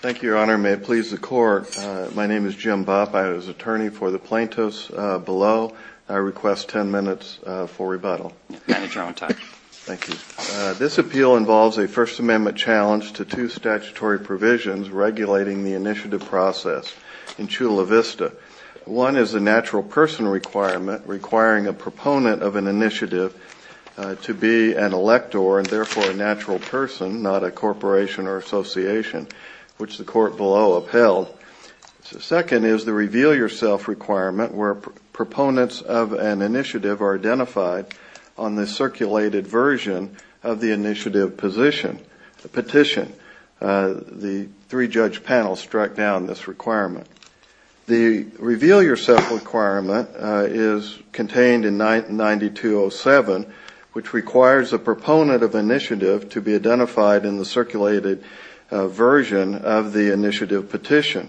Thank you, Your Honor. May it please the Court, my name is Jim Bopp. I was attorney for the plaintiffs below. I request 10 minutes for rebuttal. Your Honor, you're on time. Thank you. This appeal involves a First Amendment challenge to two statutory provisions regulating the initiative process in Chula Vista. One is a natural person requirement requiring a proponent of an initiative to be an elector and therefore a natural person, not a corporation or association, which the Court below upheld. Second is the reveal-yourself requirement where proponents of an initiative are identified on the circulated version of the initiative petition. The three-judge panel struck down this requirement. The reveal-yourself requirement is contained in 9207, which requires a proponent of an initiative to be identified in the circulated version of the initiative petition.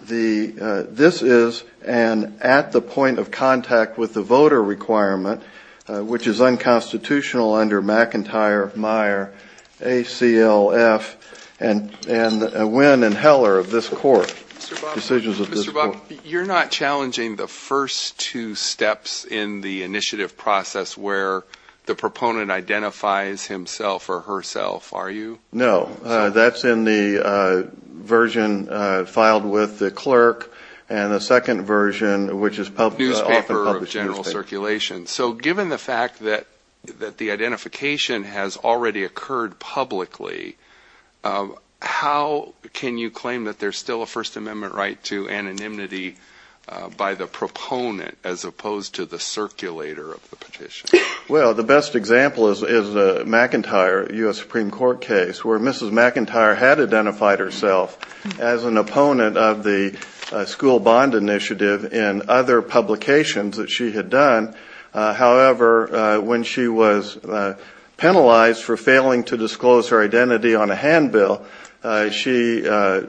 This is an at-the-point-of-contact-with-the-voter requirement, which is unconstitutional under McIntyre, Meyer, ACLF, and Nguyen and Heller of this Court. Mr. Bopp, you're not challenging the first two steps in the initiative process where the proponent identifies himself or herself, are you? No. That's in the version filed with the clerk and the second version, which is often published in newspapers. So given the fact that the identification has already occurred publicly, how can you claim that there's still a First Amendment right to anonymity by the proponent as opposed to the circulator of the petition? Well, the best example is McIntyre, a U.S. Supreme Court case, where Mrs. McIntyre had identified herself as an opponent of the school bond initiative in other publications that she had done. However, when she was penalized for failing to disclose her identity on a handbill, she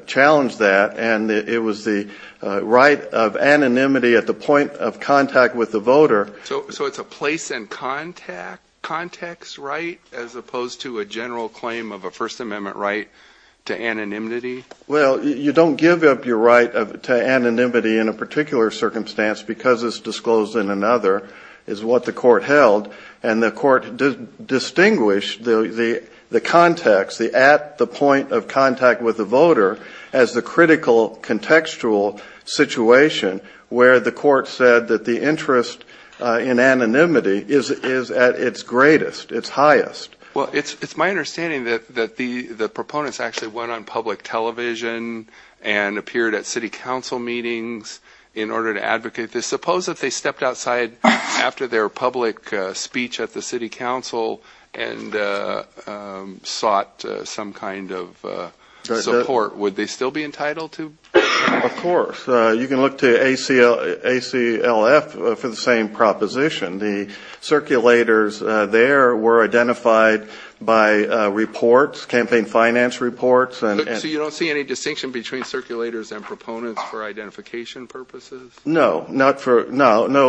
challenged that, and it was the right of anonymity at the point of contact with the voter. So it's a place-in-context right as opposed to a general claim of a First Amendment right to anonymity? Well, you don't give up your right to anonymity in a particular circumstance because it's disclosed in another, is what the Court held. And the Court distinguished the context, the at-the-point-of-contact-with-the-voter as the critical contextual situation where the Court said that the interest in anonymity is at its greatest, its highest. Well, it's my understanding that the proponents actually went on public television and appeared at city council meetings in order to advocate this. But suppose if they stepped outside after their public speech at the city council and sought some kind of support, would they still be entitled to? Of course. You can look to ACLF for the same proposition. The circulators there were identified by reports, campaign finance reports. So you don't see any distinction between circulators and proponents for identification purposes? No,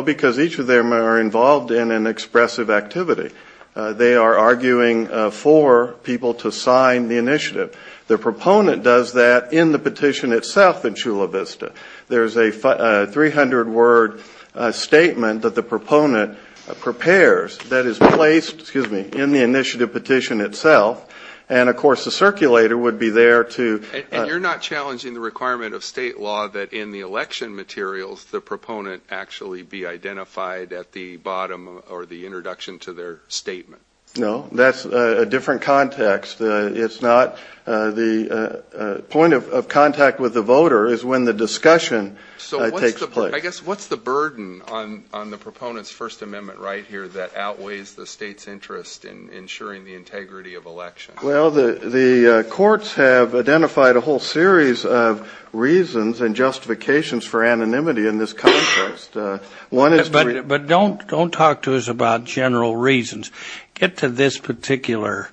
because each of them are involved in an expressive activity. They are arguing for people to sign the initiative. The proponent does that in the petition itself in Chula Vista. There's a 300-word statement that the proponent prepares that is placed in the initiative petition itself. And, of course, the circulator would be there to – Will the proponent actually be identified at the bottom or the introduction to their statement? No. That's a different context. It's not – the point of contact with the voter is when the discussion takes place. So I guess what's the burden on the proponent's First Amendment right here that outweighs the state's interest in ensuring the integrity of elections? Well, the courts have identified a whole series of reasons and justifications for anonymity in this context. But don't talk to us about general reasons. Get to this particular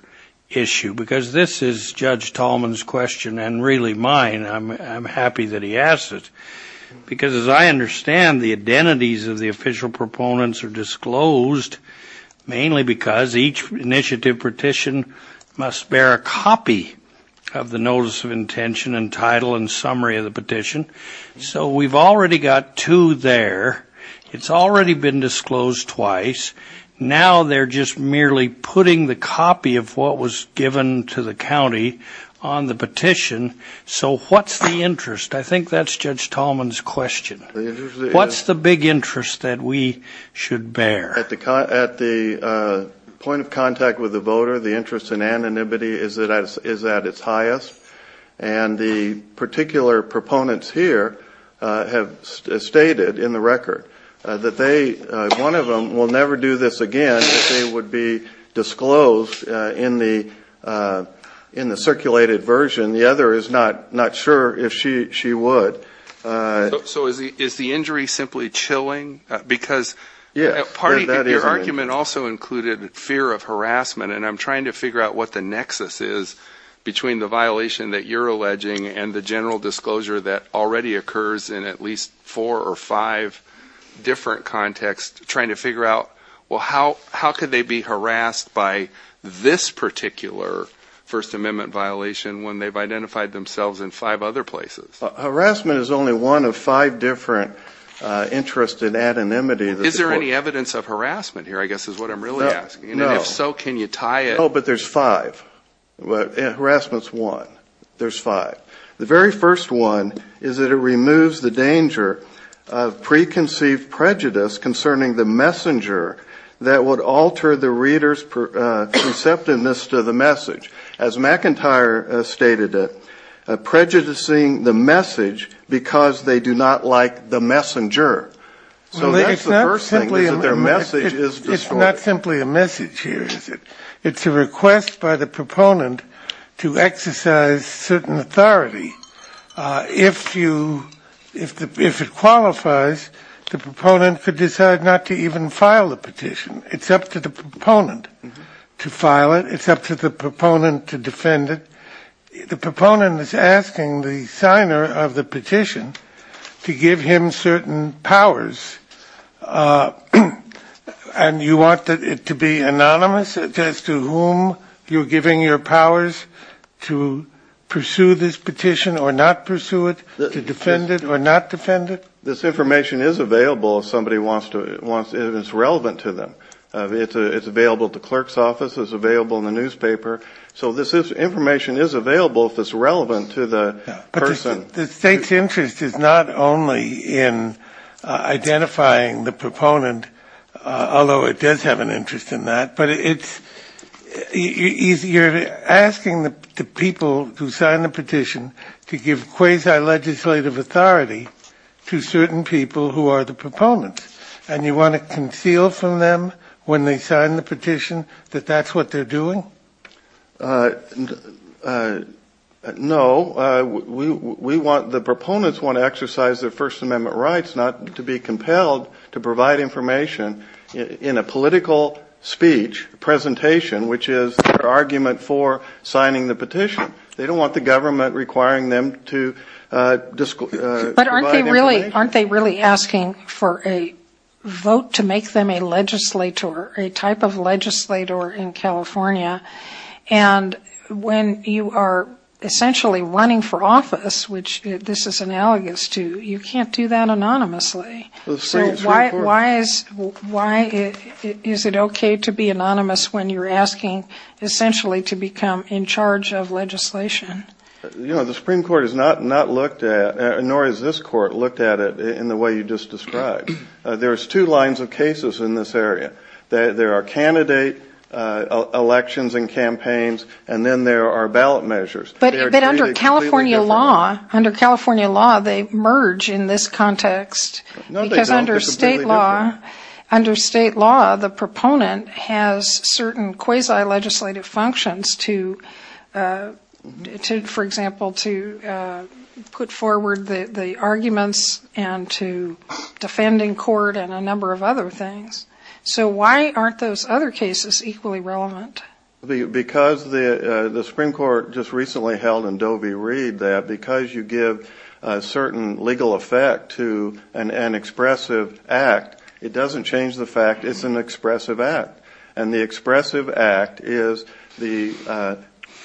issue because this is Judge Tallman's question and really mine. I'm happy that he asked it because, as I understand, the identities of the official proponents are disclosed, mainly because each initiative petition must bear a copy of the notice of intention and title and summary of the petition. So we've already got two there. It's already been disclosed twice. Now they're just merely putting the copy of what was given to the county on the petition. So what's the interest? I think that's Judge Tallman's question. What's the big interest that we should bear? At the point of contact with the voter, the interest in anonymity is at its highest. And the particular proponents here have stated in the record that they – one of them will never do this again, if they would be disclosed in the circulated version. The other is not sure if she would. So is the injury simply chilling? Because your argument also included fear of harassment, and I'm trying to figure out what the nexus is between the violation that you're alleging and the general disclosure that already occurs in at least four or five different contexts, trying to figure out, well, how could they be harassed by this particular First Amendment violation when they've identified themselves in five other places? Harassment is only one of five different interests in anonymity. Is there any evidence of harassment here, I guess, is what I'm really asking? No. And if so, can you tie it? No, but there's five. Harassment's one. There's five. The very first one is that it removes the danger of preconceived prejudice concerning the messenger that would alter the reader's perceptiveness to the message. As McIntyre stated, prejudicing the message because they do not like the messenger. So that's the first thing, is that their message is disclosed. It's not simply a message here, is it? It's a request by the proponent to exercise certain authority. If it qualifies, the proponent could decide not to even file the petition. It's up to the proponent to file it. It's up to the proponent to defend it. The proponent is asking the signer of the petition to give him certain powers, and you want it to be anonymous as to whom you're giving your powers to pursue this petition or not pursue it, to defend it or not defend it? This information is available if somebody wants to. It's relevant to them. It's available at the clerk's office. It's available in the newspaper. So this information is available if it's relevant to the person. But the State's interest is not only in identifying the proponent, although it does have an interest in that, but you're asking the people who signed the petition to give quasi-legislative authority to certain people who are the proponents. And you want to conceal from them when they sign the petition that that's what they're doing? No. The proponents want to exercise their First Amendment rights not to be compelled to provide information in a political speech, presentation, which is their argument for signing the petition. They don't want the government requiring them to provide information. Aren't they really asking for a vote to make them a legislator, a type of legislator in California? And when you are essentially running for office, which this is analogous to, you can't do that anonymously. So why is it okay to be anonymous when you're asking essentially to become in charge of legislation? You know, the Supreme Court has not looked at, nor has this court looked at it in the way you just described. There's two lines of cases in this area. There are candidate elections and campaigns, and then there are ballot measures. But under California law, they merge in this context. No, they don't. Under state law, the proponent has certain quasi-legislative functions to, for example, to put forward the arguments and to defend in court and a number of other things. So why aren't those other cases equally relevant? Because the Supreme Court just recently held in Dovey Reed that because you give a certain legal effect to an expressive act, it doesn't change the fact it's an expressive act. And the expressive act is the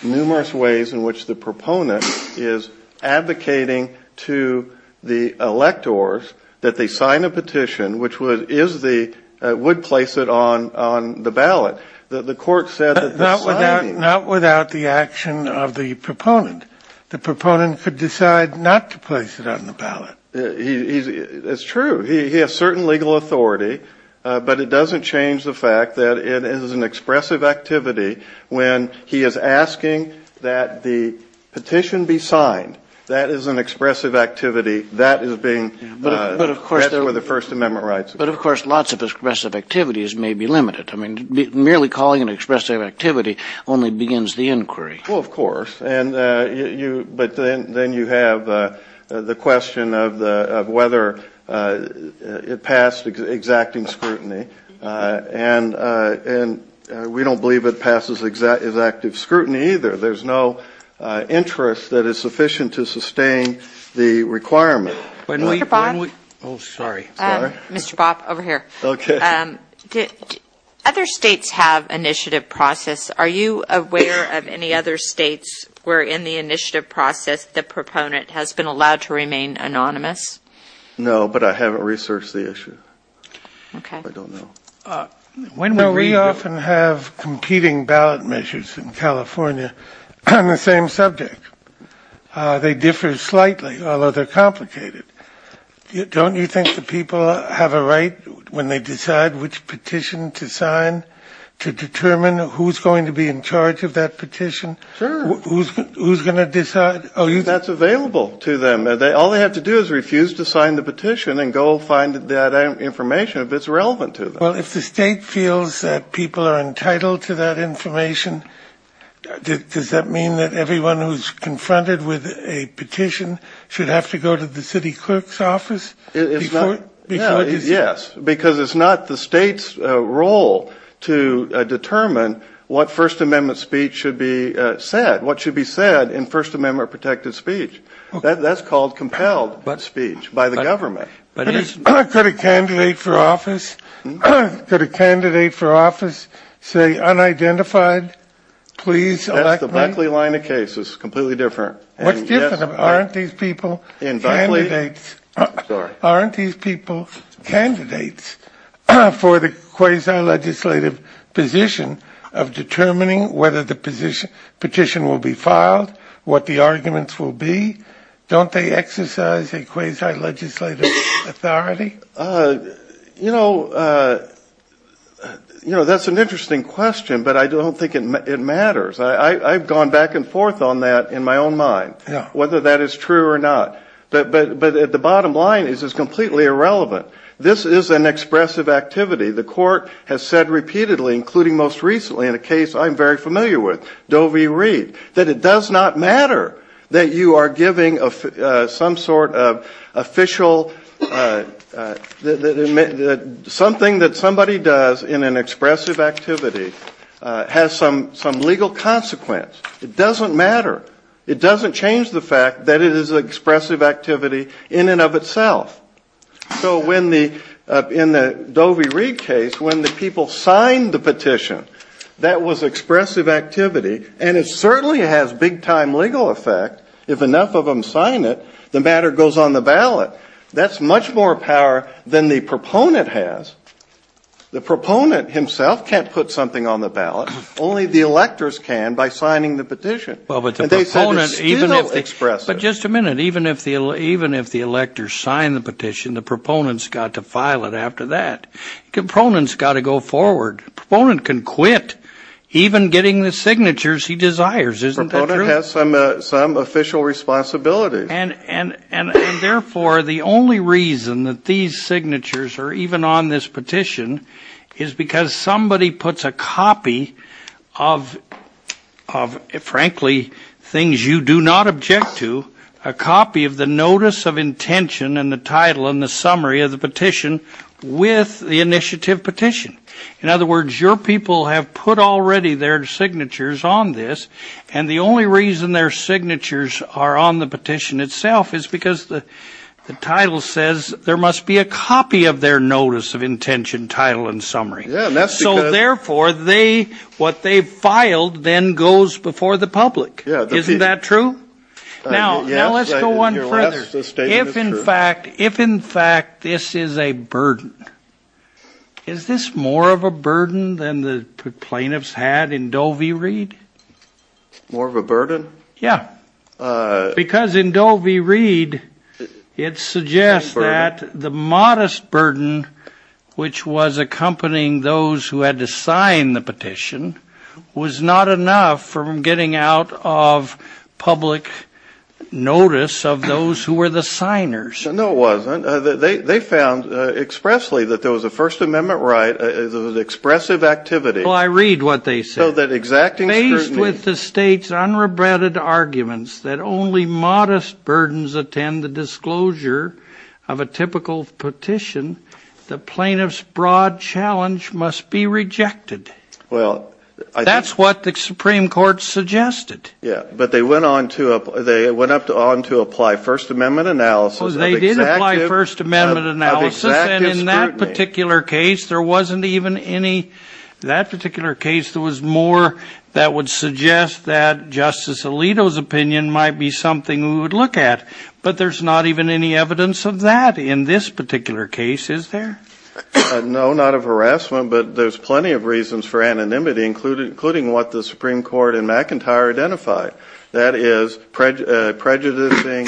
numerous ways in which the proponent is advocating to the electors that they sign a petition, which is the, would place it on the ballot. The court said that the signing. Not without the action of the proponent. The proponent could decide not to place it on the ballot. It's true. He has certain legal authority, but it doesn't change the fact that it is an expressive activity when he is asking that the petition be signed. That is an expressive activity. That is being, that's where the First Amendment rights are. But, of course, lots of expressive activities may be limited. I mean, merely calling an expressive activity only begins the inquiry. Well, of course. But then you have the question of whether it passed exacting scrutiny. And we don't believe it passes exacting scrutiny either. There's no interest that is sufficient to sustain the requirement. Mr. Bob? Oh, sorry. Sorry. Mr. Bob, over here. Okay. Other states have initiative process. Are you aware of any other states where, in the initiative process, the proponent has been allowed to remain anonymous? No, but I haven't researched the issue. Okay. I don't know. No, we often have competing ballot measures in California on the same subject. They differ slightly, although they're complicated. Don't you think the people have a right, when they decide which petition to sign, to determine who's going to be in charge of that petition? Sure. Who's going to decide? That's available to them. All they have to do is refuse to sign the petition and go find that information if it's relevant to them. Well, if the state feels that people are entitled to that information, does that mean that everyone who's confronted with a petition should have to go to the city clerk's office before deciding? Yes. Because it's not the state's role to determine what First Amendment speech should be said, what should be said in First Amendment protected speech. That's called compelled speech by the government. Could a candidate for office say unidentified, please elect me? That's the Buckley line of cases, completely different. What's different? Aren't these people candidates? Sorry. Aren't these people candidates for the quasi-legislative position of determining whether the petition will be filed, what the arguments will be? Don't they exercise a quasi-legislative authority? You know, that's an interesting question, but I don't think it matters. I've gone back and forth on that in my own mind, whether that is true or not. But the bottom line is it's completely irrelevant. This is an expressive activity. The court has said repeatedly, including most recently in a case I'm very familiar with, Doe v. Reed, that it does not matter that you are giving some sort of official, something that somebody does in an expressive activity has some legal consequence. It doesn't matter. It doesn't change the fact that it is an expressive activity in and of itself. So in the Doe v. Reed case, when the people signed the petition, that was expressive activity, and it certainly has big-time legal effect. If enough of them sign it, the matter goes on the ballot. That's much more power than the proponent has. The proponent himself can't put something on the ballot. Only the electors can by signing the petition. And they said to still express it. But just a minute. Even if the electors sign the petition, the proponent has got to file it after that. The proponent has got to go forward. The proponent can quit even getting the signatures he desires. Isn't that true? The proponent has some official responsibility. And, therefore, the only reason that these signatures are even on this petition is because somebody puts a copy of, frankly, things you do not object to, a copy of the notice of intention and the title and the summary of the petition with the initiative petition. In other words, your people have put already their signatures on this, and the only reason their signatures are on the petition itself is because the title says there must be a copy of their notice of intention, title, and summary. So, therefore, what they've filed then goes before the public. Isn't that true? Now, let's go on further. If, in fact, this is a burden, is this more of a burden than the plaintiffs had in Doe v. Reed? More of a burden? Yeah. Because in Doe v. Reed, it suggests that the modest burden, which was accompanying those who had to sign the petition, was not enough from getting out of public notice of those who were the signers. No, it wasn't. They found expressly that there was a First Amendment right, there was expressive activity. Well, I read what they said. Faced with the state's unrebutted arguments that only modest burdens attend the disclosure of a typical petition, the plaintiffs' broad challenge must be rejected. That's what the Supreme Court suggested. Yeah, but they went on to apply First Amendment analysis of exacting scrutiny. They did apply First Amendment analysis, and in that particular case, there wasn't even any ñ in that particular case, there was more that would suggest that Justice Alito's opinion might be something we would look at. But there's not even any evidence of that in this particular case, is there? No, not of harassment, but there's plenty of reasons for anonymity, including what the Supreme Court in McIntyre identified, that is, prejudicing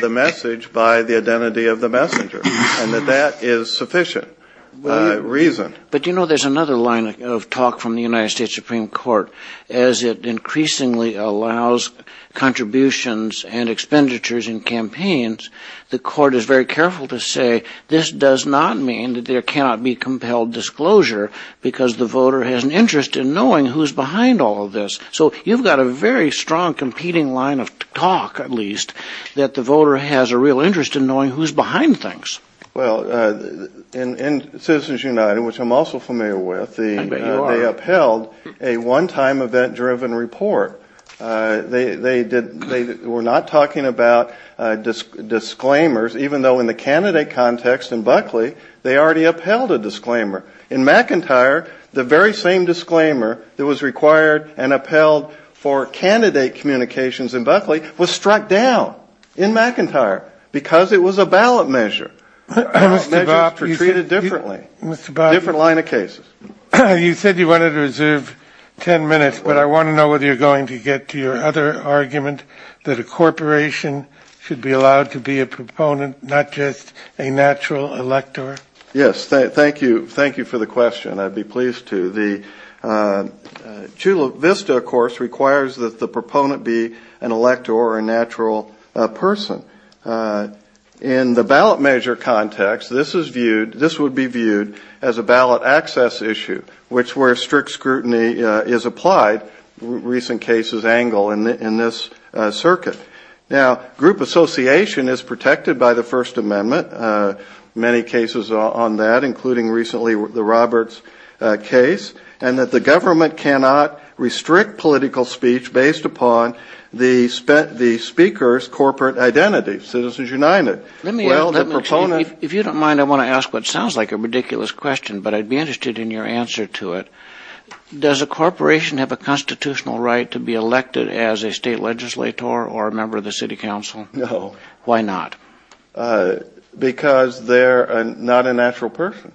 the message by the identity of the messenger, and that that is sufficient. But, you know, there's another line of talk from the United States Supreme Court. As it increasingly allows contributions and expenditures in campaigns, the Court is very careful to say, this does not mean that there cannot be compelled disclosure, because the voter has an interest in knowing who's behind all of this. So you've got a very strong competing line of talk, at least, that the voter has a real interest in knowing who's behind things. Well, in Citizens United, which I'm also familiar with, they upheld a one-time event-driven report. They were not talking about disclaimers, even though in the candidate context in Buckley, they already upheld a disclaimer. In McIntyre, the very same disclaimer that was required and upheld for candidate communications in Buckley was struck down in McIntyre, because it was a ballot measure. Measures were treated differently. A different line of cases. You said you wanted to reserve ten minutes, but I want to know whether you're going to get to your other argument, that a corporation should be allowed to be a proponent, not just a natural elector. Yes, thank you. Thank you for the question. I'd be pleased to. The Chula Vista, of course, requires that the proponent be an elector or a natural person. In the ballot measure context, this would be viewed as a ballot access issue, which where strict scrutiny is applied, recent cases angle in this circuit. Now, group association is protected by the First Amendment. Many cases are on that, including recently the Roberts case, and that the government cannot restrict political speech based upon the speaker's corporate identity, Citizens United. If you don't mind, I want to ask what sounds like a ridiculous question, but I'd be interested in your answer to it. Does a corporation have a constitutional right to be elected as a state legislator or a member of the city council? No. Why not? Because they're not a natural person.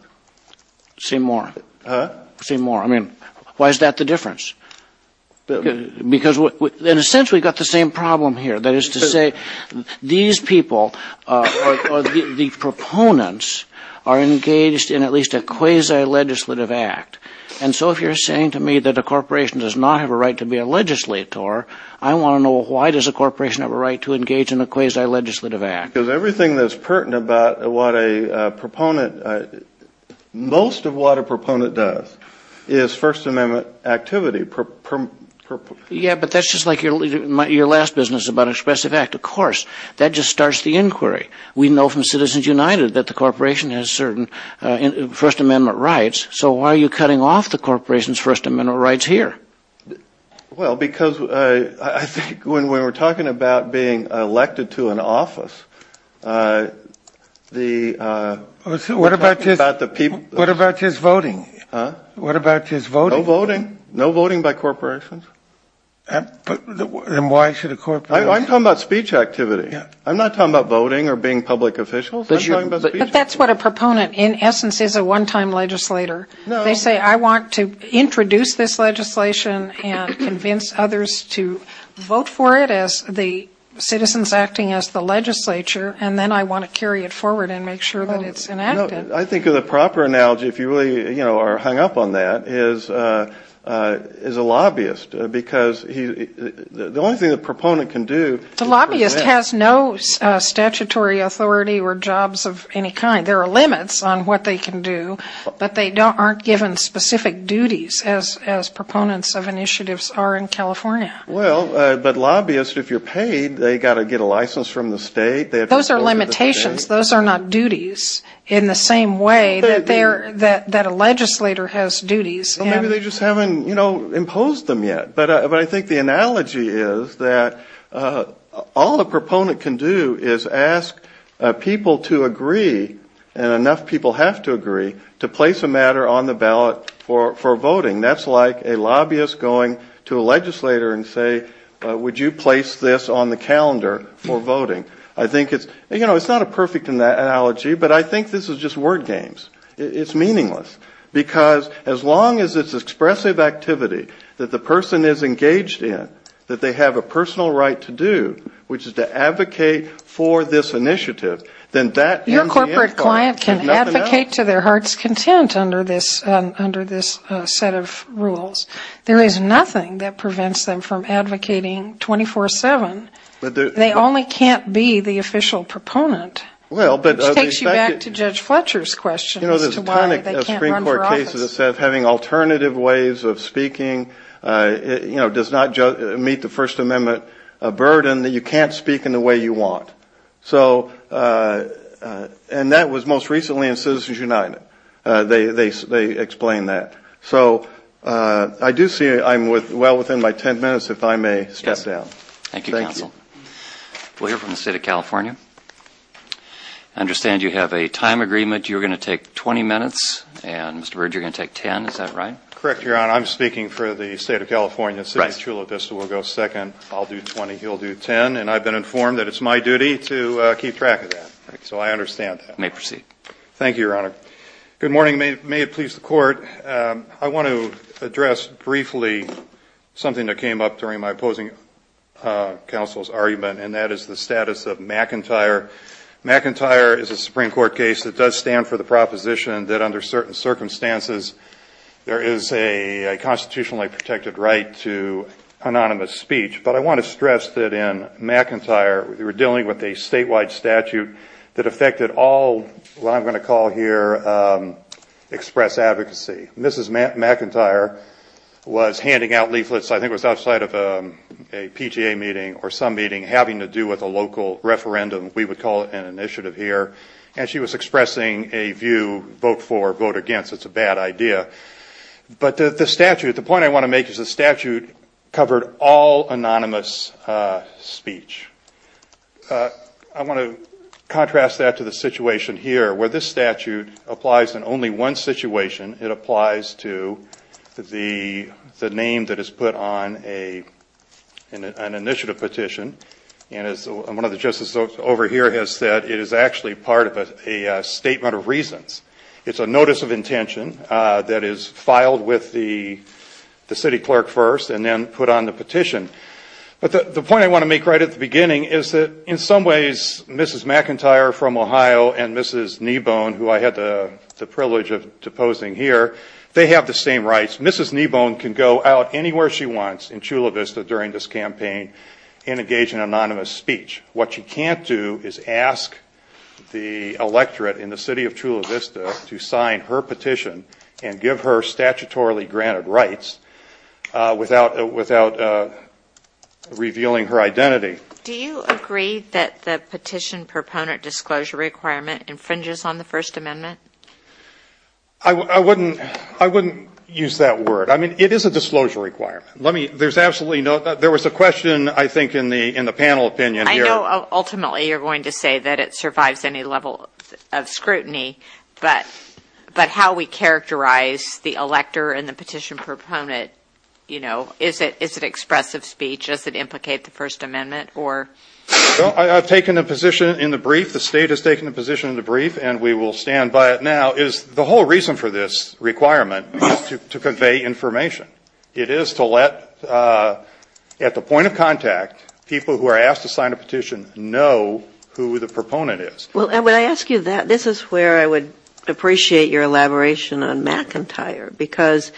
Say more. Huh? Say more. I mean, why is that the difference? Because, in a sense, we've got the same problem here. That is to say, these people, or the proponents, are engaged in at least a quasi-legislative act. And so if you're saying to me that a corporation does not have a right to be a legislator, I want to know why does a corporation have a right to engage in a quasi-legislative act? Because everything that's pertinent about what a proponent, most of what a proponent does, is First Amendment activity. Yeah, but that's just like your last business about expressive act. Of course. That just starts the inquiry. We know from Citizens United that the corporation has certain First Amendment rights. So why are you cutting off the corporation's First Amendment rights here? Well, because I think when we're talking about being elected to an office, the ---- What about just voting? Huh? What about just voting? No voting. No voting by corporations. And why should a corporation ---- I'm talking about speech activity. I'm not talking about voting or being public officials. But that's what a proponent, in essence, is, a one-time legislator. No. So you say, I want to introduce this legislation and convince others to vote for it as the citizens acting as the legislature, and then I want to carry it forward and make sure that it's enacted. I think the proper analogy, if you really are hung up on that, is a lobbyist. Because the only thing the proponent can do ---- The lobbyist has no statutory authority or jobs of any kind. There are limits on what they can do, but they aren't given specific duties as proponents of initiatives are in California. Well, but lobbyists, if you're paid, they've got to get a license from the state. Those are limitations. Those are not duties in the same way that a legislator has duties. Well, maybe they just haven't, you know, imposed them yet. But I think the analogy is that all a proponent can do is ask people to agree, and enough people have to agree, to place a matter on the ballot for voting. That's like a lobbyist going to a legislator and saying, would you place this on the calendar for voting? I think it's, you know, it's not a perfect analogy, but I think this is just word games. It's meaningless. Because as long as it's expressive activity that the person is engaged in, that they have a personal right to do, which is to advocate for this initiative, then that is the end goal. Your corporate client can advocate to their heart's content under this set of rules. There is nothing that prevents them from advocating 24-7. They only can't be the official proponent. Which takes you back to Judge Fletcher's question as to why they can't run for office. You know, there's a ton of Supreme Court cases that said having alternative ways of speaking, you know, does not meet the First Amendment burden, that you can't speak in the way you want. So, and that was most recently in Citizens United. They explained that. So I do see I'm well within my ten minutes, if I may step down. Thank you, counsel. We'll hear from the State of California. I understand you have a time agreement. You're going to take 20 minutes. And, Mr. Bridge, you're going to take 10. Is that right? Correct, Your Honor. I'm speaking for the State of California. City of Chula Vista will go second. I'll do 20. He'll do 10. And I've been informed that it's my duty to keep track of that. You may proceed. Thank you, Your Honor. Good morning. May it please the Court. I want to address briefly something that came up during my opposing counsel's argument, and that is the status of McIntyre. McIntyre is a Supreme Court case that does stand for the proposition that under certain circumstances there is a constitutionally protected right to anonymous speech. But I want to stress that in McIntyre, we were dealing with a statewide statute that affected all what I'm going to call here express advocacy. Mrs. McIntyre was handing out leaflets, I think it was outside of a PGA meeting or some meeting, having to do with a local referendum. We would call it an initiative here. And she was expressing a view, vote for, vote against. It's a bad idea. But the statute, the point I want to make is the statute covered all anonymous speech. I want to contrast that to the situation here where this statute applies in only one situation. It applies to the name that is put on an initiative petition. And as one of the justices over here has said, it is actually part of a statement of reasons. It's a notice of intention that is filed with the city clerk first and then put on the petition. But the point I want to make right at the beginning is that in some ways Mrs. McIntyre from Ohio and Mrs. Kneebone, who I had the privilege of deposing here, they have the same rights. Mrs. Kneebone can go out anywhere she wants in Chula Vista during this campaign and engage in anonymous speech. What she can't do is ask the electorate in the city of Chula Vista to sign her petition and give her statutorily granted rights without revealing her identity. Do you agree that the petition proponent disclosure requirement infringes on the First Amendment? I wouldn't use that word. I mean, it is a disclosure requirement. There was a question, I think, in the panel opinion here. I know ultimately you're going to say that it survives any level of scrutiny, but how we characterize the elector and the petition proponent, you know, is it expressive speech? Does it implicate the First Amendment? I've taken a position in the brief. The State has taken a position in the brief, and we will stand by it now, is the whole reason for this requirement is to convey information. It is to let, at the point of contact, people who are asked to sign a petition know who the proponent is. Well, when I ask you that, this is where I would appreciate your elaboration on McIntyre, because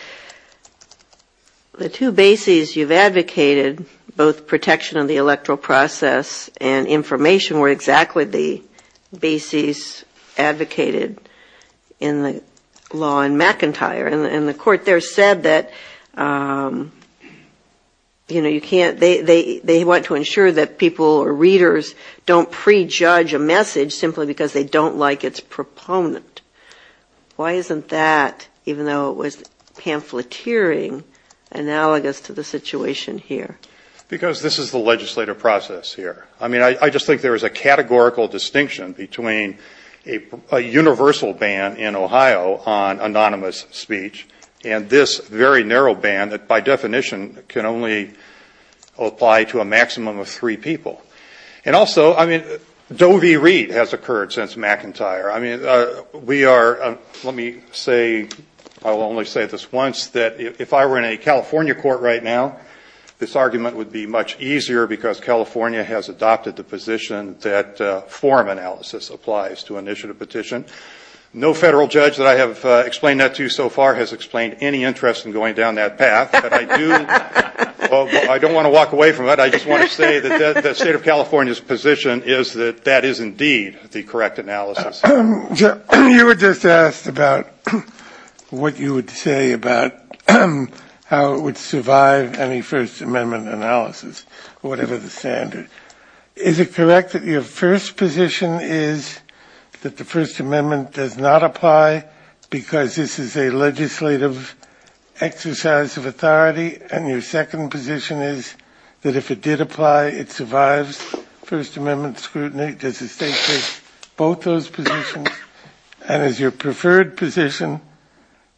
the two bases you've advocated, both protection of the electoral process and information, were exactly the bases advocated in the law in McIntyre. And the court there said that, you know, you can't ‑‑ they want to ensure that people or readers don't prejudge a message simply because they don't like its proponent. Why isn't that, even though it was pamphleteering, analogous to the situation here? Because this is the legislative process here. I mean, I just think there is a categorical distinction between a universal ban in Ohio on anonymous speech and this very narrow ban that, by definition, can only apply to a maximum of three people. And also, I mean, Doe v. Reed has occurred since McIntyre. I mean, we are ‑‑ let me say, I'll only say this once, that if I were in a California court right now, this argument would be much easier because California has adopted the position that form analysis applies to initiative petition. No federal judge that I have explained that to you so far has explained any interest in going down that path. But I do ‑‑ I don't want to walk away from it. I just want to say that the State of California's position is that that is indeed the correct analysis. You were just asked about what you would say about how it would survive any First Amendment analysis, whatever the standard. Is it correct that your first position is that the First Amendment does not apply because this is a legislative exercise of authority? And your second position is that if it did apply, it survives First Amendment scrutiny? Does the State take both those positions? And is your preferred position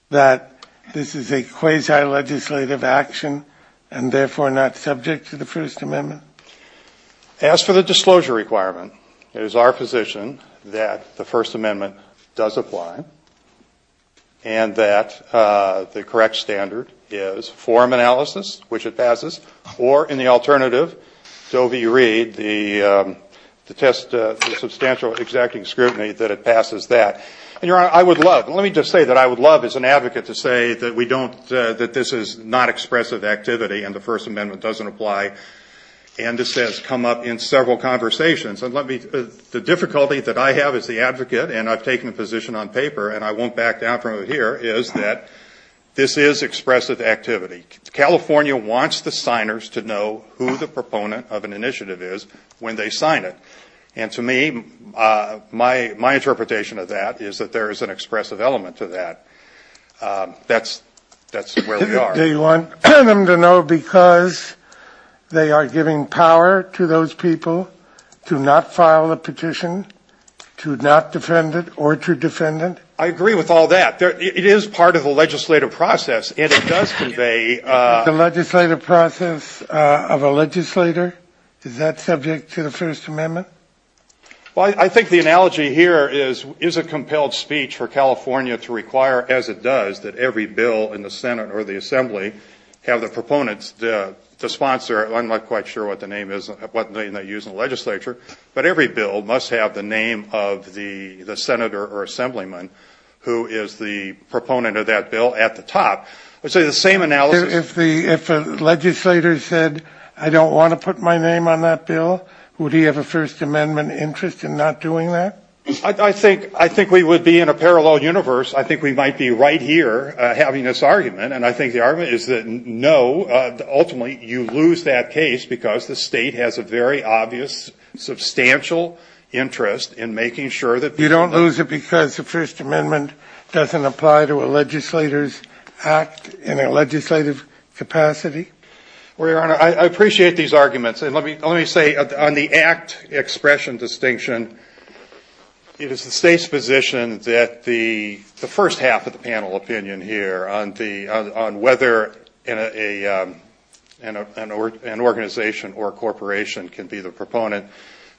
that this is a quasi‑legislative action and therefore not subject to the First Amendment? As for the disclosure requirement, it is our position that the First Amendment does apply and that the correct standard is form analysis, which it passes, or in the alternative, Doe v. Reed, the test of substantial executing scrutiny, that it passes that. And, Your Honor, I would love, let me just say that I would love as an advocate to say that we don't, that this is not expressive activity and the First Amendment doesn't apply. And this has come up in several conversations. And let me, the difficulty that I have as the advocate, and I've taken a position on paper, and I won't back down from it here, is that this is expressive activity. California wants the signers to know who the proponent of an initiative is when they sign it. And to me, my interpretation of that is that there is an expressive element to that. That's where we are. Do you want them to know because they are giving power to those people to not file a petition, to not defend it, or to defend it? I agree with all that. It is part of the legislative process, and it does convey... The legislative process of a legislator, is that subject to the First Amendment? Well, I think the analogy here is, is a compelled speech for California to require, as it does, that every bill in the Senate or the Assembly have the proponents to sponsor, I'm not quite sure what the name is, what name they use in the legislature, but every bill must have the name of the Senator or Assemblyman who is the proponent of that bill at the top. So the same analysis... If a legislator said, I don't want to put my name on that bill, would he have a First Amendment interest in not doing that? I think we would be in a parallel universe. I think we might be right here having this argument, and I think the argument is that no, ultimately, you lose that case because the state has a very obvious, substantial interest in making sure that... You don't lose it because the First Amendment doesn't apply to a legislator's act in a legislative capacity? Well, Your Honor, I appreciate these arguments, and let me say, on the act expression distinction, it is the state's position that the first half of the panel opinion here on whether an organization or corporation can be the proponent,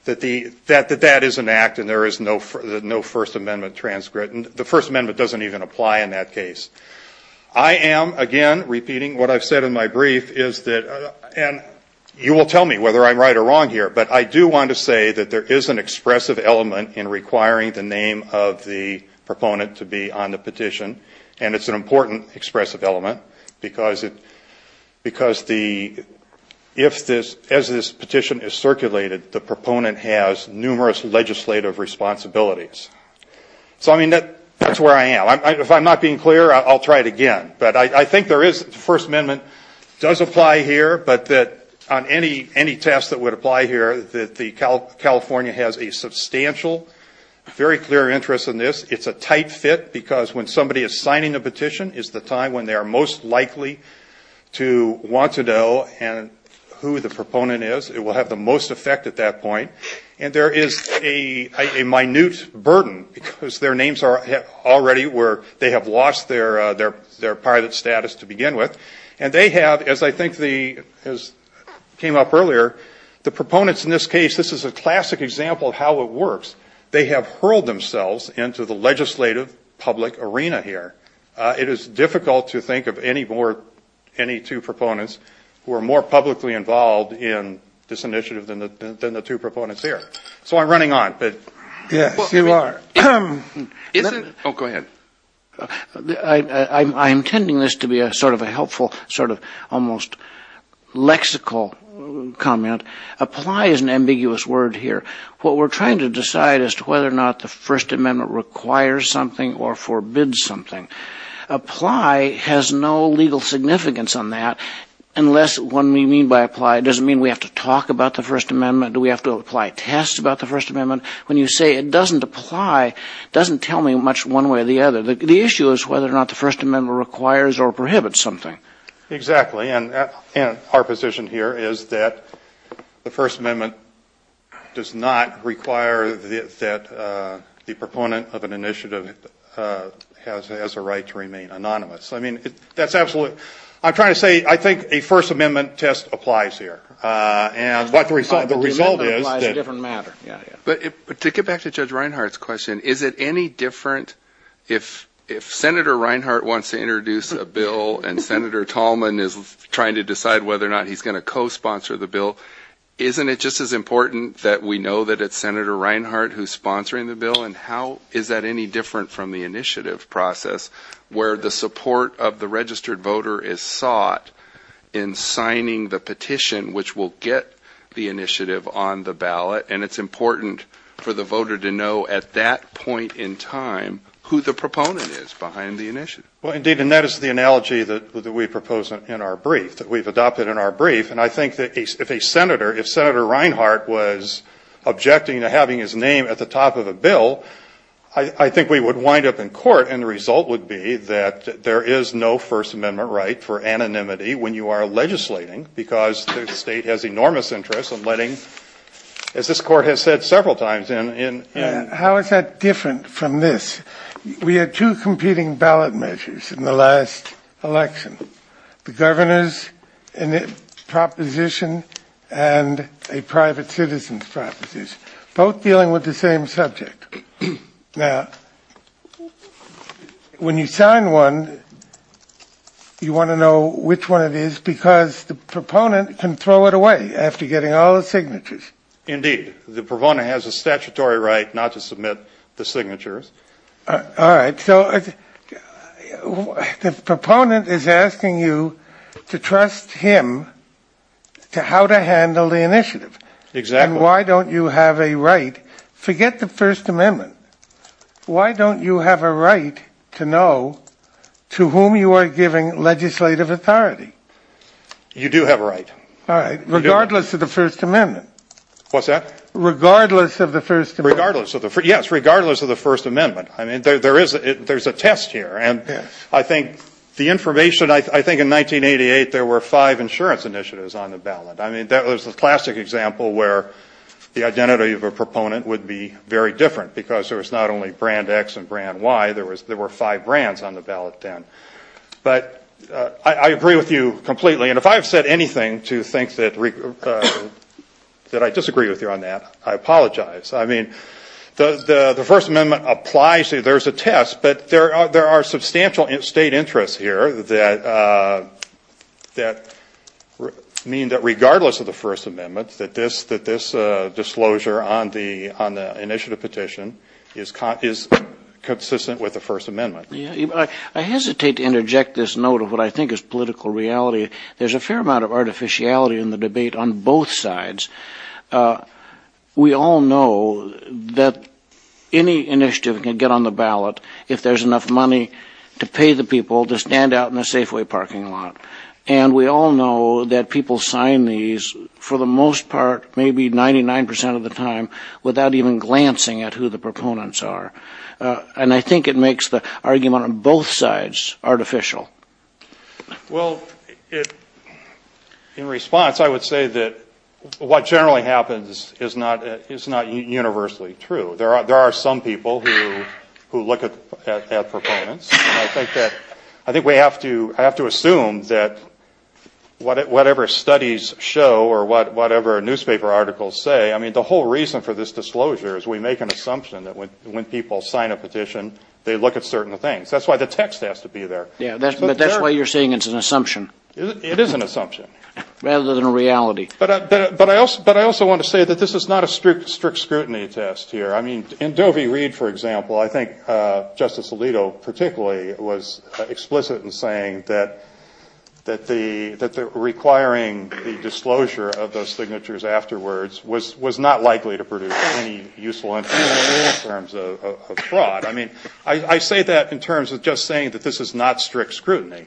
that that is an act and there is no First Amendment transcript, and the First Amendment doesn't even apply in that case. I am, again, repeating what I've said in my brief, and you will tell me whether I'm right or wrong here, but I do want to say that there is an expressive element in requiring the name of the proponent to be on the petition, and it's an important expressive element because as this petition is circulated, the proponent has numerous legislative responsibilities. So, I mean, that's where I am. If I'm not being clear, I'll try it again. But I think the First Amendment does apply here, but on any test that would apply here, that California has a substantial, very clear interest in this. It's a tight fit because when somebody is signing a petition is the time when they are most likely to want to know who the proponent is. It will have the most effect at that point. And there is a minute burden because their names are already where they have lost their pilot status to begin with, and they have, as I think came up earlier, the proponents in this case, this is a classic example of how it works, they have hurled themselves into the legislative public arena here. It is difficult to think of any two proponents who are more publicly involved in this initiative than the two proponents here. So I'm running on, but... Yes, you are. Oh, go ahead. I'm intending this to be a sort of a helpful sort of almost lexical comment. Apply is an ambiguous word here. What we're trying to decide as to whether or not the First Amendment requires something or forbids something. Apply has no legal significance on that unless when we mean by apply, it doesn't mean we have to talk about the First Amendment. Do we have to apply tests about the First Amendment? When you say it doesn't apply, it doesn't tell me much one way or the other. The issue is whether or not the First Amendment requires or prohibits something. Exactly. And our position here is that the First Amendment does not require that the proponent of an initiative has a right to remain anonymous. I mean, that's absolutely... I'm trying to say I think a First Amendment test applies here. And the result is... The First Amendment applies to a different matter. But to get back to Judge Reinhart's question, is it any different if Senator Reinhart wants to introduce a bill and Senator Tallman is trying to decide whether or not he's going to co-sponsor the bill, isn't it just as important that we know that it's Senator Reinhart who's sponsoring the bill? And how is that any different from the initiative process where the support of the registered voter is sought in signing the petition, which will get the initiative on the ballot, and it's important for the voter to know at that point in time who the proponent is behind the initiative? Well, indeed, and that is the analogy that we propose in our brief, that we've adopted in our brief. And I think that if a senator, if Senator Reinhart was objecting to having his name at the top of a bill, I think we would wind up in court, and the result would be that there is no First Amendment right for anonymity when you are legislating because the state has enormous interest in letting, as this court has said several times in. How is that different from this? We had two competing ballot measures in the last election, the governor's proposition and a private citizen's proposition, both dealing with the same subject. Now, when you sign one, you want to know which one it is because the proponent can throw it away after getting all the signatures. Indeed, the proponent has a statutory right not to submit the signatures. All right, so the proponent is asking you to trust him to how to handle the initiative. Exactly. And why don't you have a right? Forget the First Amendment. Why don't you have a right to know to whom you are giving legislative authority? You do have a right. All right, regardless of the First Amendment. What's that? Regardless of the First Amendment. Yes, regardless of the First Amendment. I mean, there is a test here. And I think the information, I think in 1988 there were five insurance initiatives on the ballot. I mean, that was a classic example where the identity of a proponent would be very different because there was not only brand X and brand Y, there were five brands on the ballot then. But I agree with you completely. And if I have said anything to think that I disagree with you on that, I apologize. I mean, the First Amendment applies to you. Yes, but there are substantial state interests here that mean that regardless of the First Amendment, that this disclosure on the initiative petition is consistent with the First Amendment. I hesitate to interject this note of what I think is political reality. There's a fair amount of artificiality in the debate on both sides. We all know that any initiative can get on the ballot if there's enough money to pay the people to stand out in the Safeway parking lot. And we all know that people sign these for the most part, maybe 99 percent of the time, without even glancing at who the proponents are. And I think it makes the argument on both sides artificial. Well, in response, I would say that what generally happens is not universally true. There are some people who look at proponents. And I think we have to assume that whatever studies show or whatever newspaper articles say, I mean, the whole reason for this disclosure is we make an assumption that when people sign a petition, they look at certain things. That's why the text has to be there. Yeah, but that's why you're saying it's an assumption. It is an assumption. Rather than a reality. But I also want to say that this is not a strict scrutiny test here. I mean, in Dovey Reed, for example, I think Justice Alito particularly was explicit in saying that requiring the disclosure of those signatures afterwards was not likely to produce any useful in terms of fraud. I mean, I say that in terms of just saying that this is not strict scrutiny.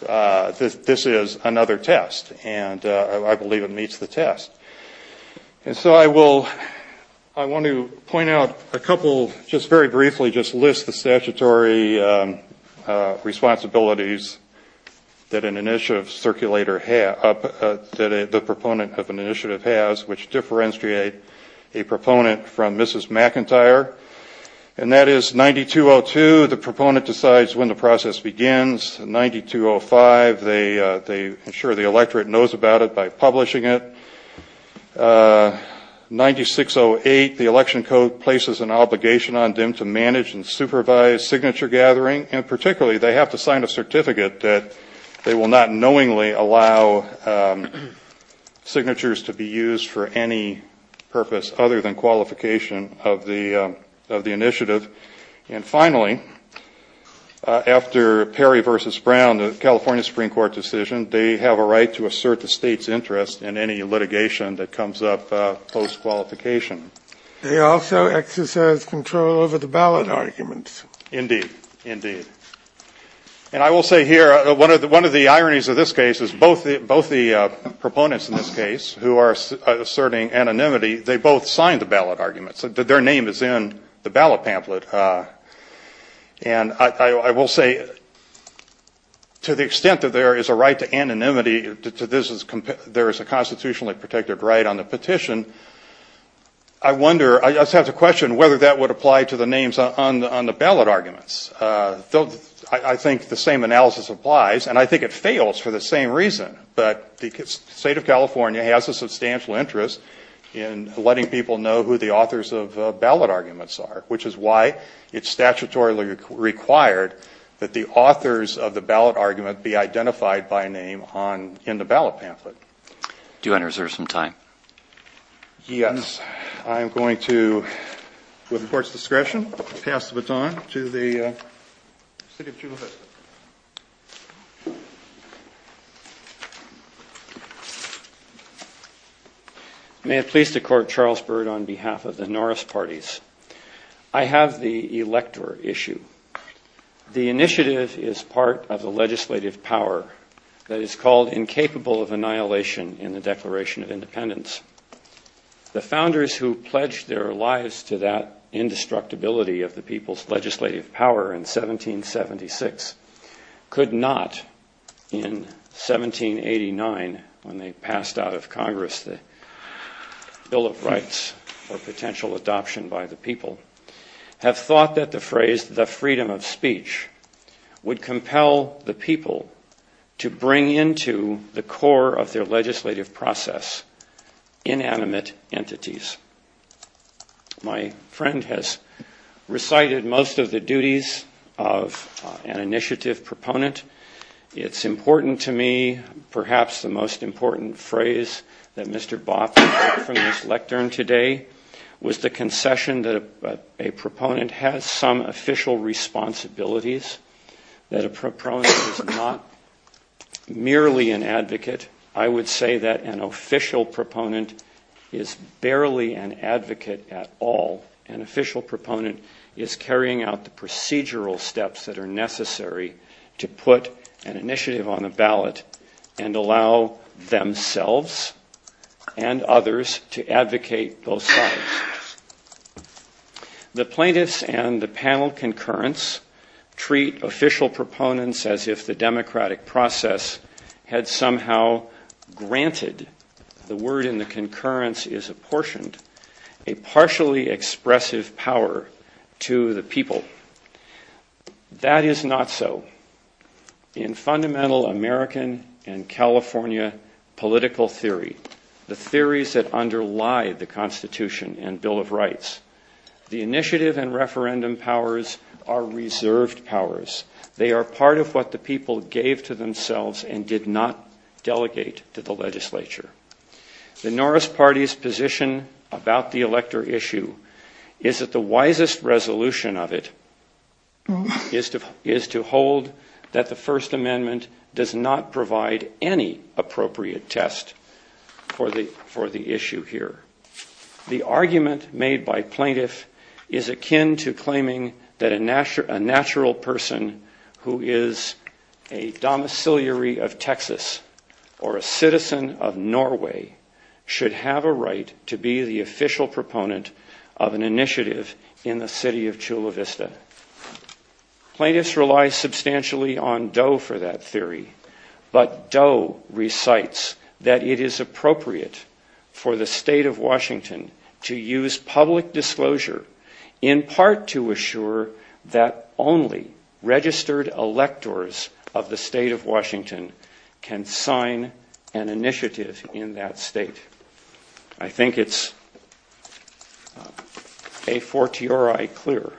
This is another test. And I believe it meets the test. And so I want to point out a couple, just very briefly, just list the statutory responsibilities that an initiative circulator has, that the proponent of an initiative has, which differentiate a proponent from Mrs. McIntyre. And that is 9202, the proponent decides when the process begins. 9205, they ensure the electorate knows about it by publishing it. 9608, the election code places an obligation on them to manage and supervise signature gathering. And particularly, they have to sign a certificate that they will not knowingly allow signatures to be used for any purpose other than qualification of the initiative. And finally, after Perry v. Brown, the California Supreme Court decision, they have a right to assert the state's interest in any litigation that comes up post-qualification. They also exercise control over the ballot arguments. Indeed. Indeed. And I will say here, one of the ironies of this case is both the proponents in this case who are asserting anonymity, they both signed the ballot arguments. Their name is in the ballot pamphlet. And I will say, to the extent that there is a right to anonymity, there is a constitutionally protected right on the petition. I wonder, I just have to question whether that would apply to the names on the ballot arguments. I think the same analysis applies, and I think it fails for the same reason. But the state of California has a substantial interest in letting people know who the authors of ballot arguments are, which is why it's statutorily required that the authors of the ballot argument be identified by name in the ballot pamphlet. Do you want to reserve some time? Yes. I am going to, with the Court's discretion, pass the baton to the City of Chula Vista. May it please the Court, Charles Byrd, on behalf of the Norris Parties. I have the elector issue. The initiative is part of the legislative power that is called incapable of annihilation in the Declaration of Independence. The founders who pledged their lives to that indestructibility of the people's legislative power in 1776 could not, in 1789, when they passed out of Congress the Bill of Rights for potential adoption by the people, have thought that the phrase the freedom of speech would compel the people to bring into the core of their legislative process inanimate entities. My friend has recited most of the duties of an initiative proponent. It's important to me, perhaps the most important phrase that Mr. Botkin took from this lectern today, was the concession that a proponent has some official responsibilities, that a proponent is not merely an advocate. I would say that an official proponent is barely an advocate at all. An official proponent is carrying out the procedural steps that are necessary to put an initiative on the ballot and allow themselves and others to advocate both sides. The plaintiffs and the panel concurrence treat official proponents as if the democratic process had somehow granted, the word in the concurrence is apportioned, a partially expressive power to the people. That is not so. In fundamental American and California political theory, the theories that underlie the Constitution and Bill of Rights, the initiative and referendum powers are reserved powers. They are part of what the people gave to themselves and did not delegate to the legislature. The Norris party's position about the elector issue is that the wisest resolution of it is to hold that the First Amendment does not provide any appropriate test for the issue here. The argument made by plaintiff is akin to claiming that a natural person who is a domiciliary of Texas or a citizen of Norway should have a right to be the official proponent of an initiative in the city of Chula Vista. Plaintiffs rely substantially on Doe for that theory. But Doe recites that it is appropriate for the state of Washington to use public disclosure in part to assure that only registered electors of the state of Washington can sign an initiative in that state. I think it's a fortiori clear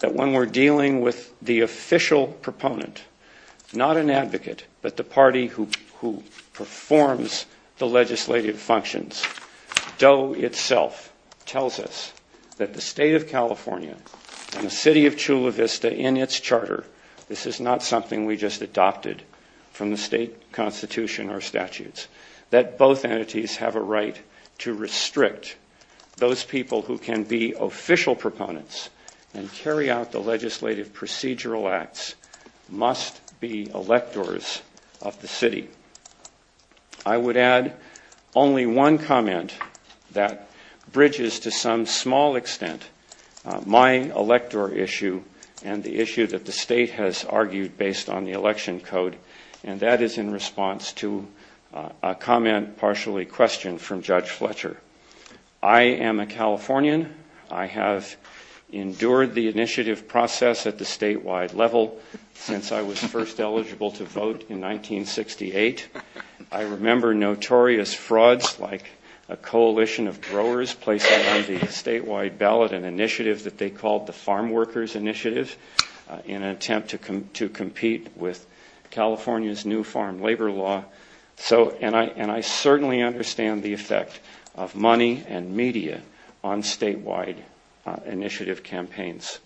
that when we're dealing with the official proponent, not an advocate, but the party who performs the legislative functions, Doe itself tells us that the state of California and the city of Chula Vista in its charter, this is not something we just adopted from the state constitution or statutes, that both entities have a right to restrict those people who can be official proponents and carry out the legislative procedural acts must be electors of the city. I would add only one comment that bridges to some small extent my elector issue and the issue that the state has argued based on the election code, and that is in response to a comment partially questioned from Judge Fletcher. I am a Californian. I have endured the initiative process at the statewide level since I was first eligible to vote in 1968. I remember notorious frauds like a coalition of growers placing on the statewide ballot an initiative that they called the Farm Workers Initiative in an attempt to compete with California's new farm labor law. And I certainly understand the effect of money and media on statewide initiative campaigns.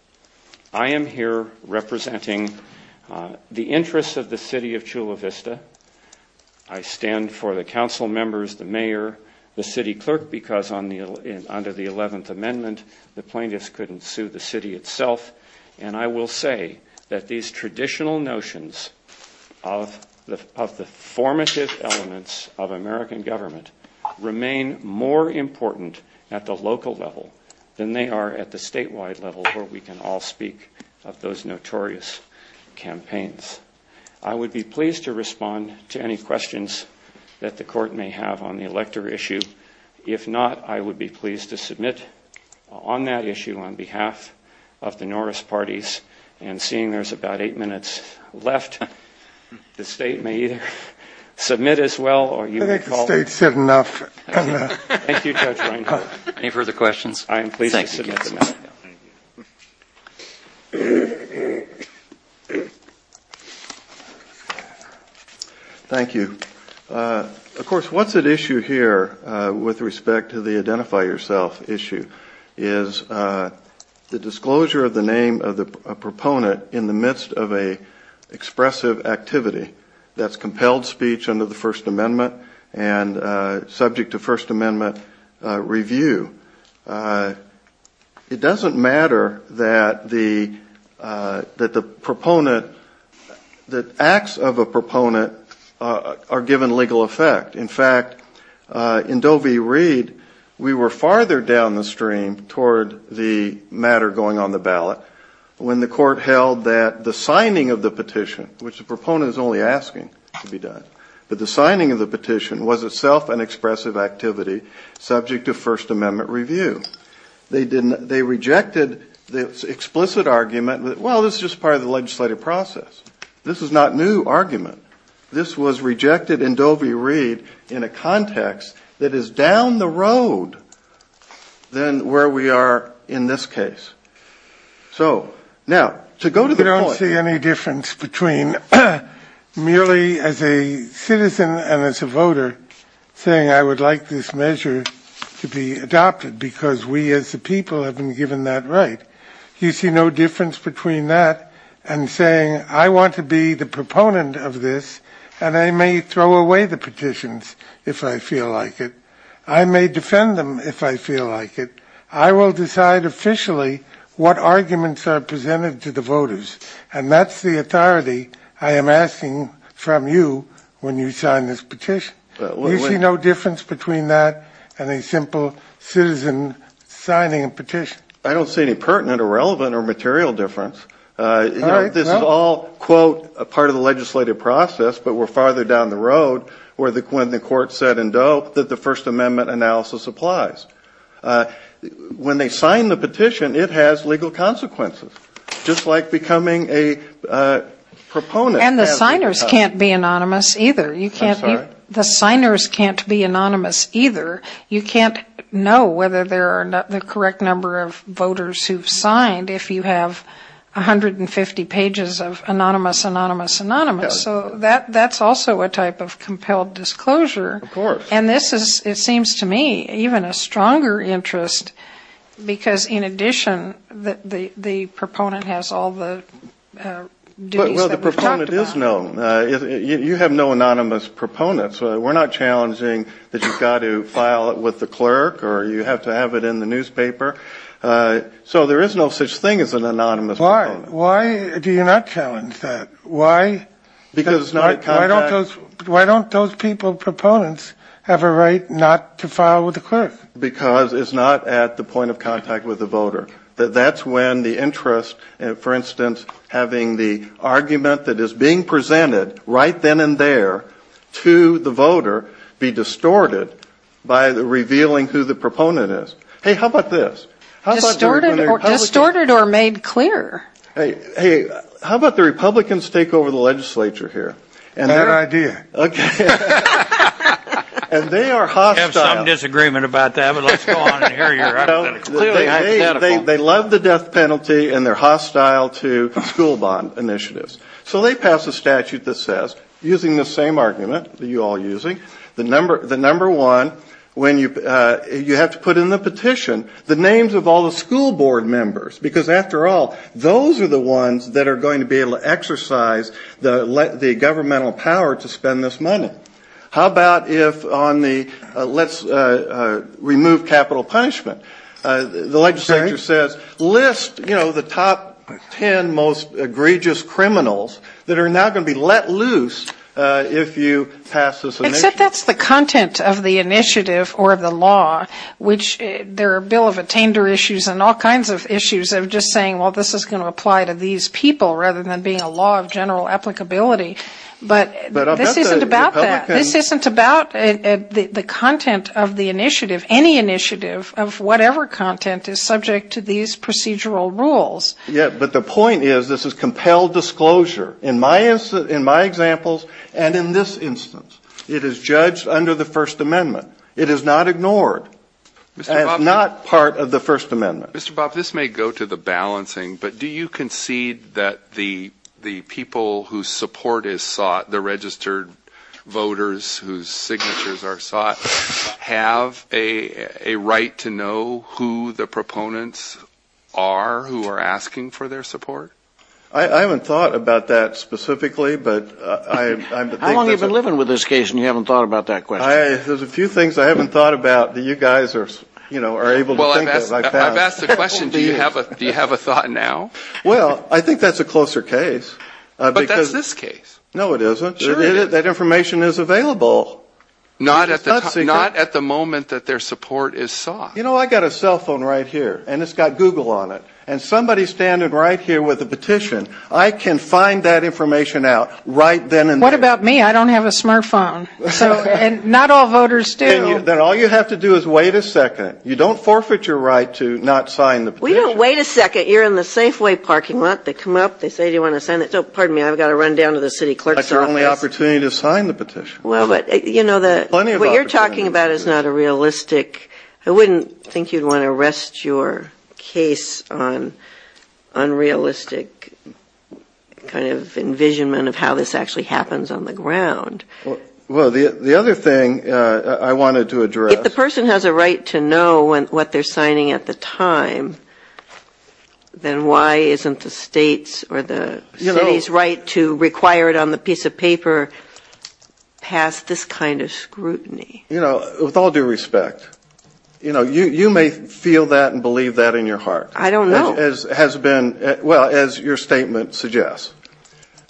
I am here representing the interests of the city of Chula Vista. I stand for the council members, the mayor, the city clerk, because under the 11th Amendment, the plaintiffs couldn't sue the city itself. And I will say that these traditional notions of the formative elements of American government remain more important at the local level than they are at the statewide level where we can all speak of those notorious campaigns. I would be pleased to respond to any questions that the court may have on the elector issue. If not, I would be pleased to submit on that issue on behalf of the Norris parties. And seeing there's about eight minutes left, the state may either submit as well or you may call. I think the state said enough. Thank you, Judge Reinhart. Any further questions? I am pleased to submit. Thank you. Thank you. Of course, what's at issue here with respect to the identify yourself issue is the disclosure of the name of a proponent in the midst of an expressive activity that's compelled speech under the First Amendment and subject to First Amendment review. It doesn't matter that the proponent, that acts of a proponent are given legal effect. In fact, in Doe v. Reed, we were farther down the stream toward the matter going on the ballot when the court held that the signing of the petition, which the proponent is only asking to be done, but the signing of the petition was itself an expressive activity subject to First Amendment review. They rejected the explicit argument that, well, this is just part of the legislative process. This is not new argument. This was rejected in Doe v. Reed in a context that is down the road than where we are in this case. So now, to go to the point. I don't see any difference between merely as a citizen and as a voter saying I would like this measure to be adopted, because we as a people have been given that right. You see no difference between that and saying I want to be the proponent of this, and I may throw away the petitions if I feel like it. I may defend them if I feel like it. I will decide officially what arguments are presented to the voters, and that's the authority I am asking from you when you sign this petition. You see no difference between that and a simple citizen signing a petition. I don't see any pertinent or relevant or material difference. This is all, quote, part of the legislative process, but we're farther down the road than when the court said in Doe that the First Amendment analysis applies. When they sign the petition, it has legal consequences, just like becoming a proponent. And the signers can't be anonymous either. I'm sorry? The signers can't be anonymous either. You can't know whether there are the correct number of voters who have signed if you have 150 pages of anonymous, anonymous, anonymous. So that's also a type of compelled disclosure. Of course. And this is, it seems to me, even a stronger interest, because in addition the proponent has all the duties that we've talked about. Well, the proponent is known. You have no anonymous proponents. We're not challenging that you've got to file it with the clerk or you have to have it in the newspaper. So there is no such thing as an anonymous proponent. Why do you not challenge that? Why don't those people, proponents, have a right not to file with the clerk? Because it's not at the point of contact with the voter. That's when the interest, for instance, having the argument that is being presented right then and there to the voter be distorted by revealing who the proponent is. Hey, how about this? Distorted or made clear. Hey, how about the Republicans take over the legislature here? Bad idea. Okay. And they are hostile. I have some disagreement about that, but let's go on and hear your hypothetical. They love the death penalty and they're hostile to school bond initiatives. So they pass a statute that says, using the same argument that you're all using, the number one, when you have to put in the petition, the names of all the school board members. Because, after all, those are the ones that are going to be able to exercise the governmental power to spend this money. How about if on the let's remove capital punishment, the legislature says list, you know, the top ten most egregious criminals that are now going to be let loose if you pass this initiative. Except that's the content of the initiative or the law, which there are a bill of attainder issues and all kinds of issues of just saying, well, this is going to apply to these people rather than being a law of general applicability. But this isn't about that. This isn't about the content of the initiative. Any initiative of whatever content is subject to these procedural rules. Yeah, but the point is, this is compelled disclosure. In my examples and in this instance, it is judged under the First Amendment. It is not ignored. It's not part of the First Amendment. Mr. Bob, this may go to the balancing, but do you concede that the people whose support is sought, the registered voters whose signatures are sought, have a right to know who the proponents are who are asking for their support? I haven't thought about that specifically, but I'm thinking. How long have you been living with this case and you haven't thought about that question? There's a few things I haven't thought about that you guys are able to think of. I've asked the question, do you have a thought now? Well, I think that's a closer case. But that's this case. No, it isn't. That information is available. Not at the moment that their support is sought. You know, I've got a cell phone right here, and it's got Google on it. And somebody's standing right here with a petition. I can find that information out right then and there. What about me? I don't have a smart phone. And not all voters do. Then all you have to do is wait a second. You don't forfeit your right to not sign the petition. We don't wait a second. You're in the Safeway parking lot. They come up, they say, do you want to sign this? Oh, pardon me, I've got to run down to the city clerk's office. That's your only opportunity to sign the petition. Well, but, you know, what you're talking about is not a realistic. I wouldn't think you'd want to arrest your case on unrealistic kind of Well, the other thing I wanted to address. If the person has a right to know what they're signing at the time, then why isn't the state's or the city's right to require it on the piece of paper pass this kind of scrutiny? You know, with all due respect, you know, you may feel that and believe that in your heart. I don't know. As has been, well, as your statement suggests.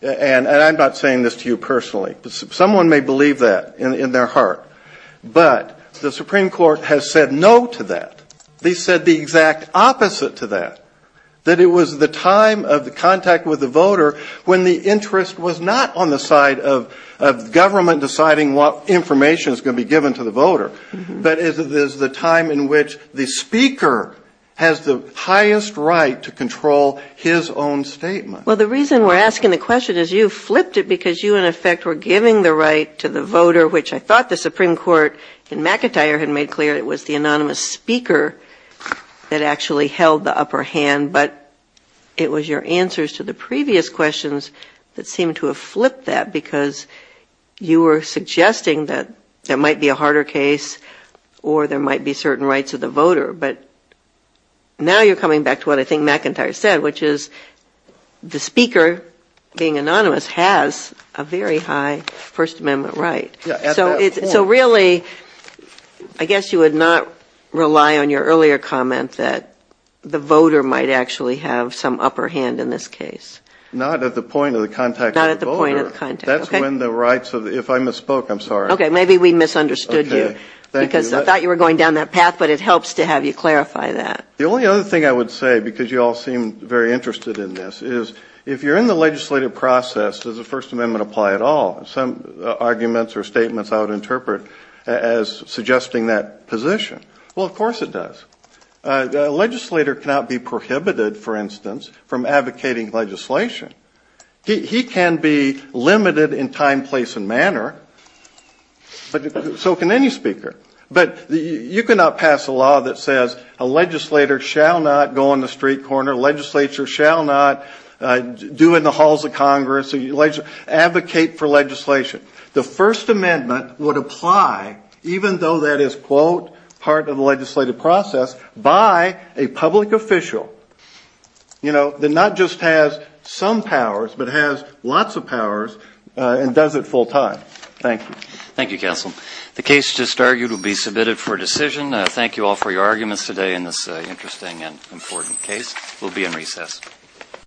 And I'm not saying this to you personally. Someone may believe that in their heart. But the Supreme Court has said no to that. They said the exact opposite to that. That it was the time of the contact with the voter when the interest was not on the side of government deciding what information is going to be given to the voter. But it is the time in which the speaker has the highest right to control his own statement. Well, the reason we're asking the question is you flipped it because you, in effect, were giving the right to the voter, which I thought the Supreme Court in McIntyre had made clear. It was the anonymous speaker that actually held the upper hand. But it was your answers to the previous questions that seemed to have flipped that because you were suggesting that there might be a harder case or there might be certain rights of the voter. But now you're coming back to what I think McIntyre said, which is the speaker, being anonymous, has a very high First Amendment right. So really, I guess you would not rely on your earlier comment that the voter might actually have some upper hand in this case. Not at the point of the contact of the voter. Not at the point of the contact. That's when the rights of the ‑‑ if I misspoke, I'm sorry. Maybe we misunderstood you. Okay. Thank you. I thought you were going down that path, but it helps to have you clarify that. The only other thing I would say, because you all seem very interested in this, is if you're in the legislative process, does the First Amendment apply at all? Some arguments or statements I would interpret as suggesting that position. Well, of course it does. A legislator cannot be prohibited, for instance, from advocating legislation. He can be limited in time, place, and manner. So can any speaker. But you cannot pass a law that says a legislator shall not go on the street corner, a legislator shall not do in the halls of Congress, advocate for legislation. The First Amendment would apply, even though that is, quote, part of the legislative process, by a public official, you know, that not just has some powers, but has lots of powers and does it full time. Thank you. Thank you, counsel. The case just argued will be submitted for decision. Thank you all for your arguments today in this interesting and important case. We'll be in recess.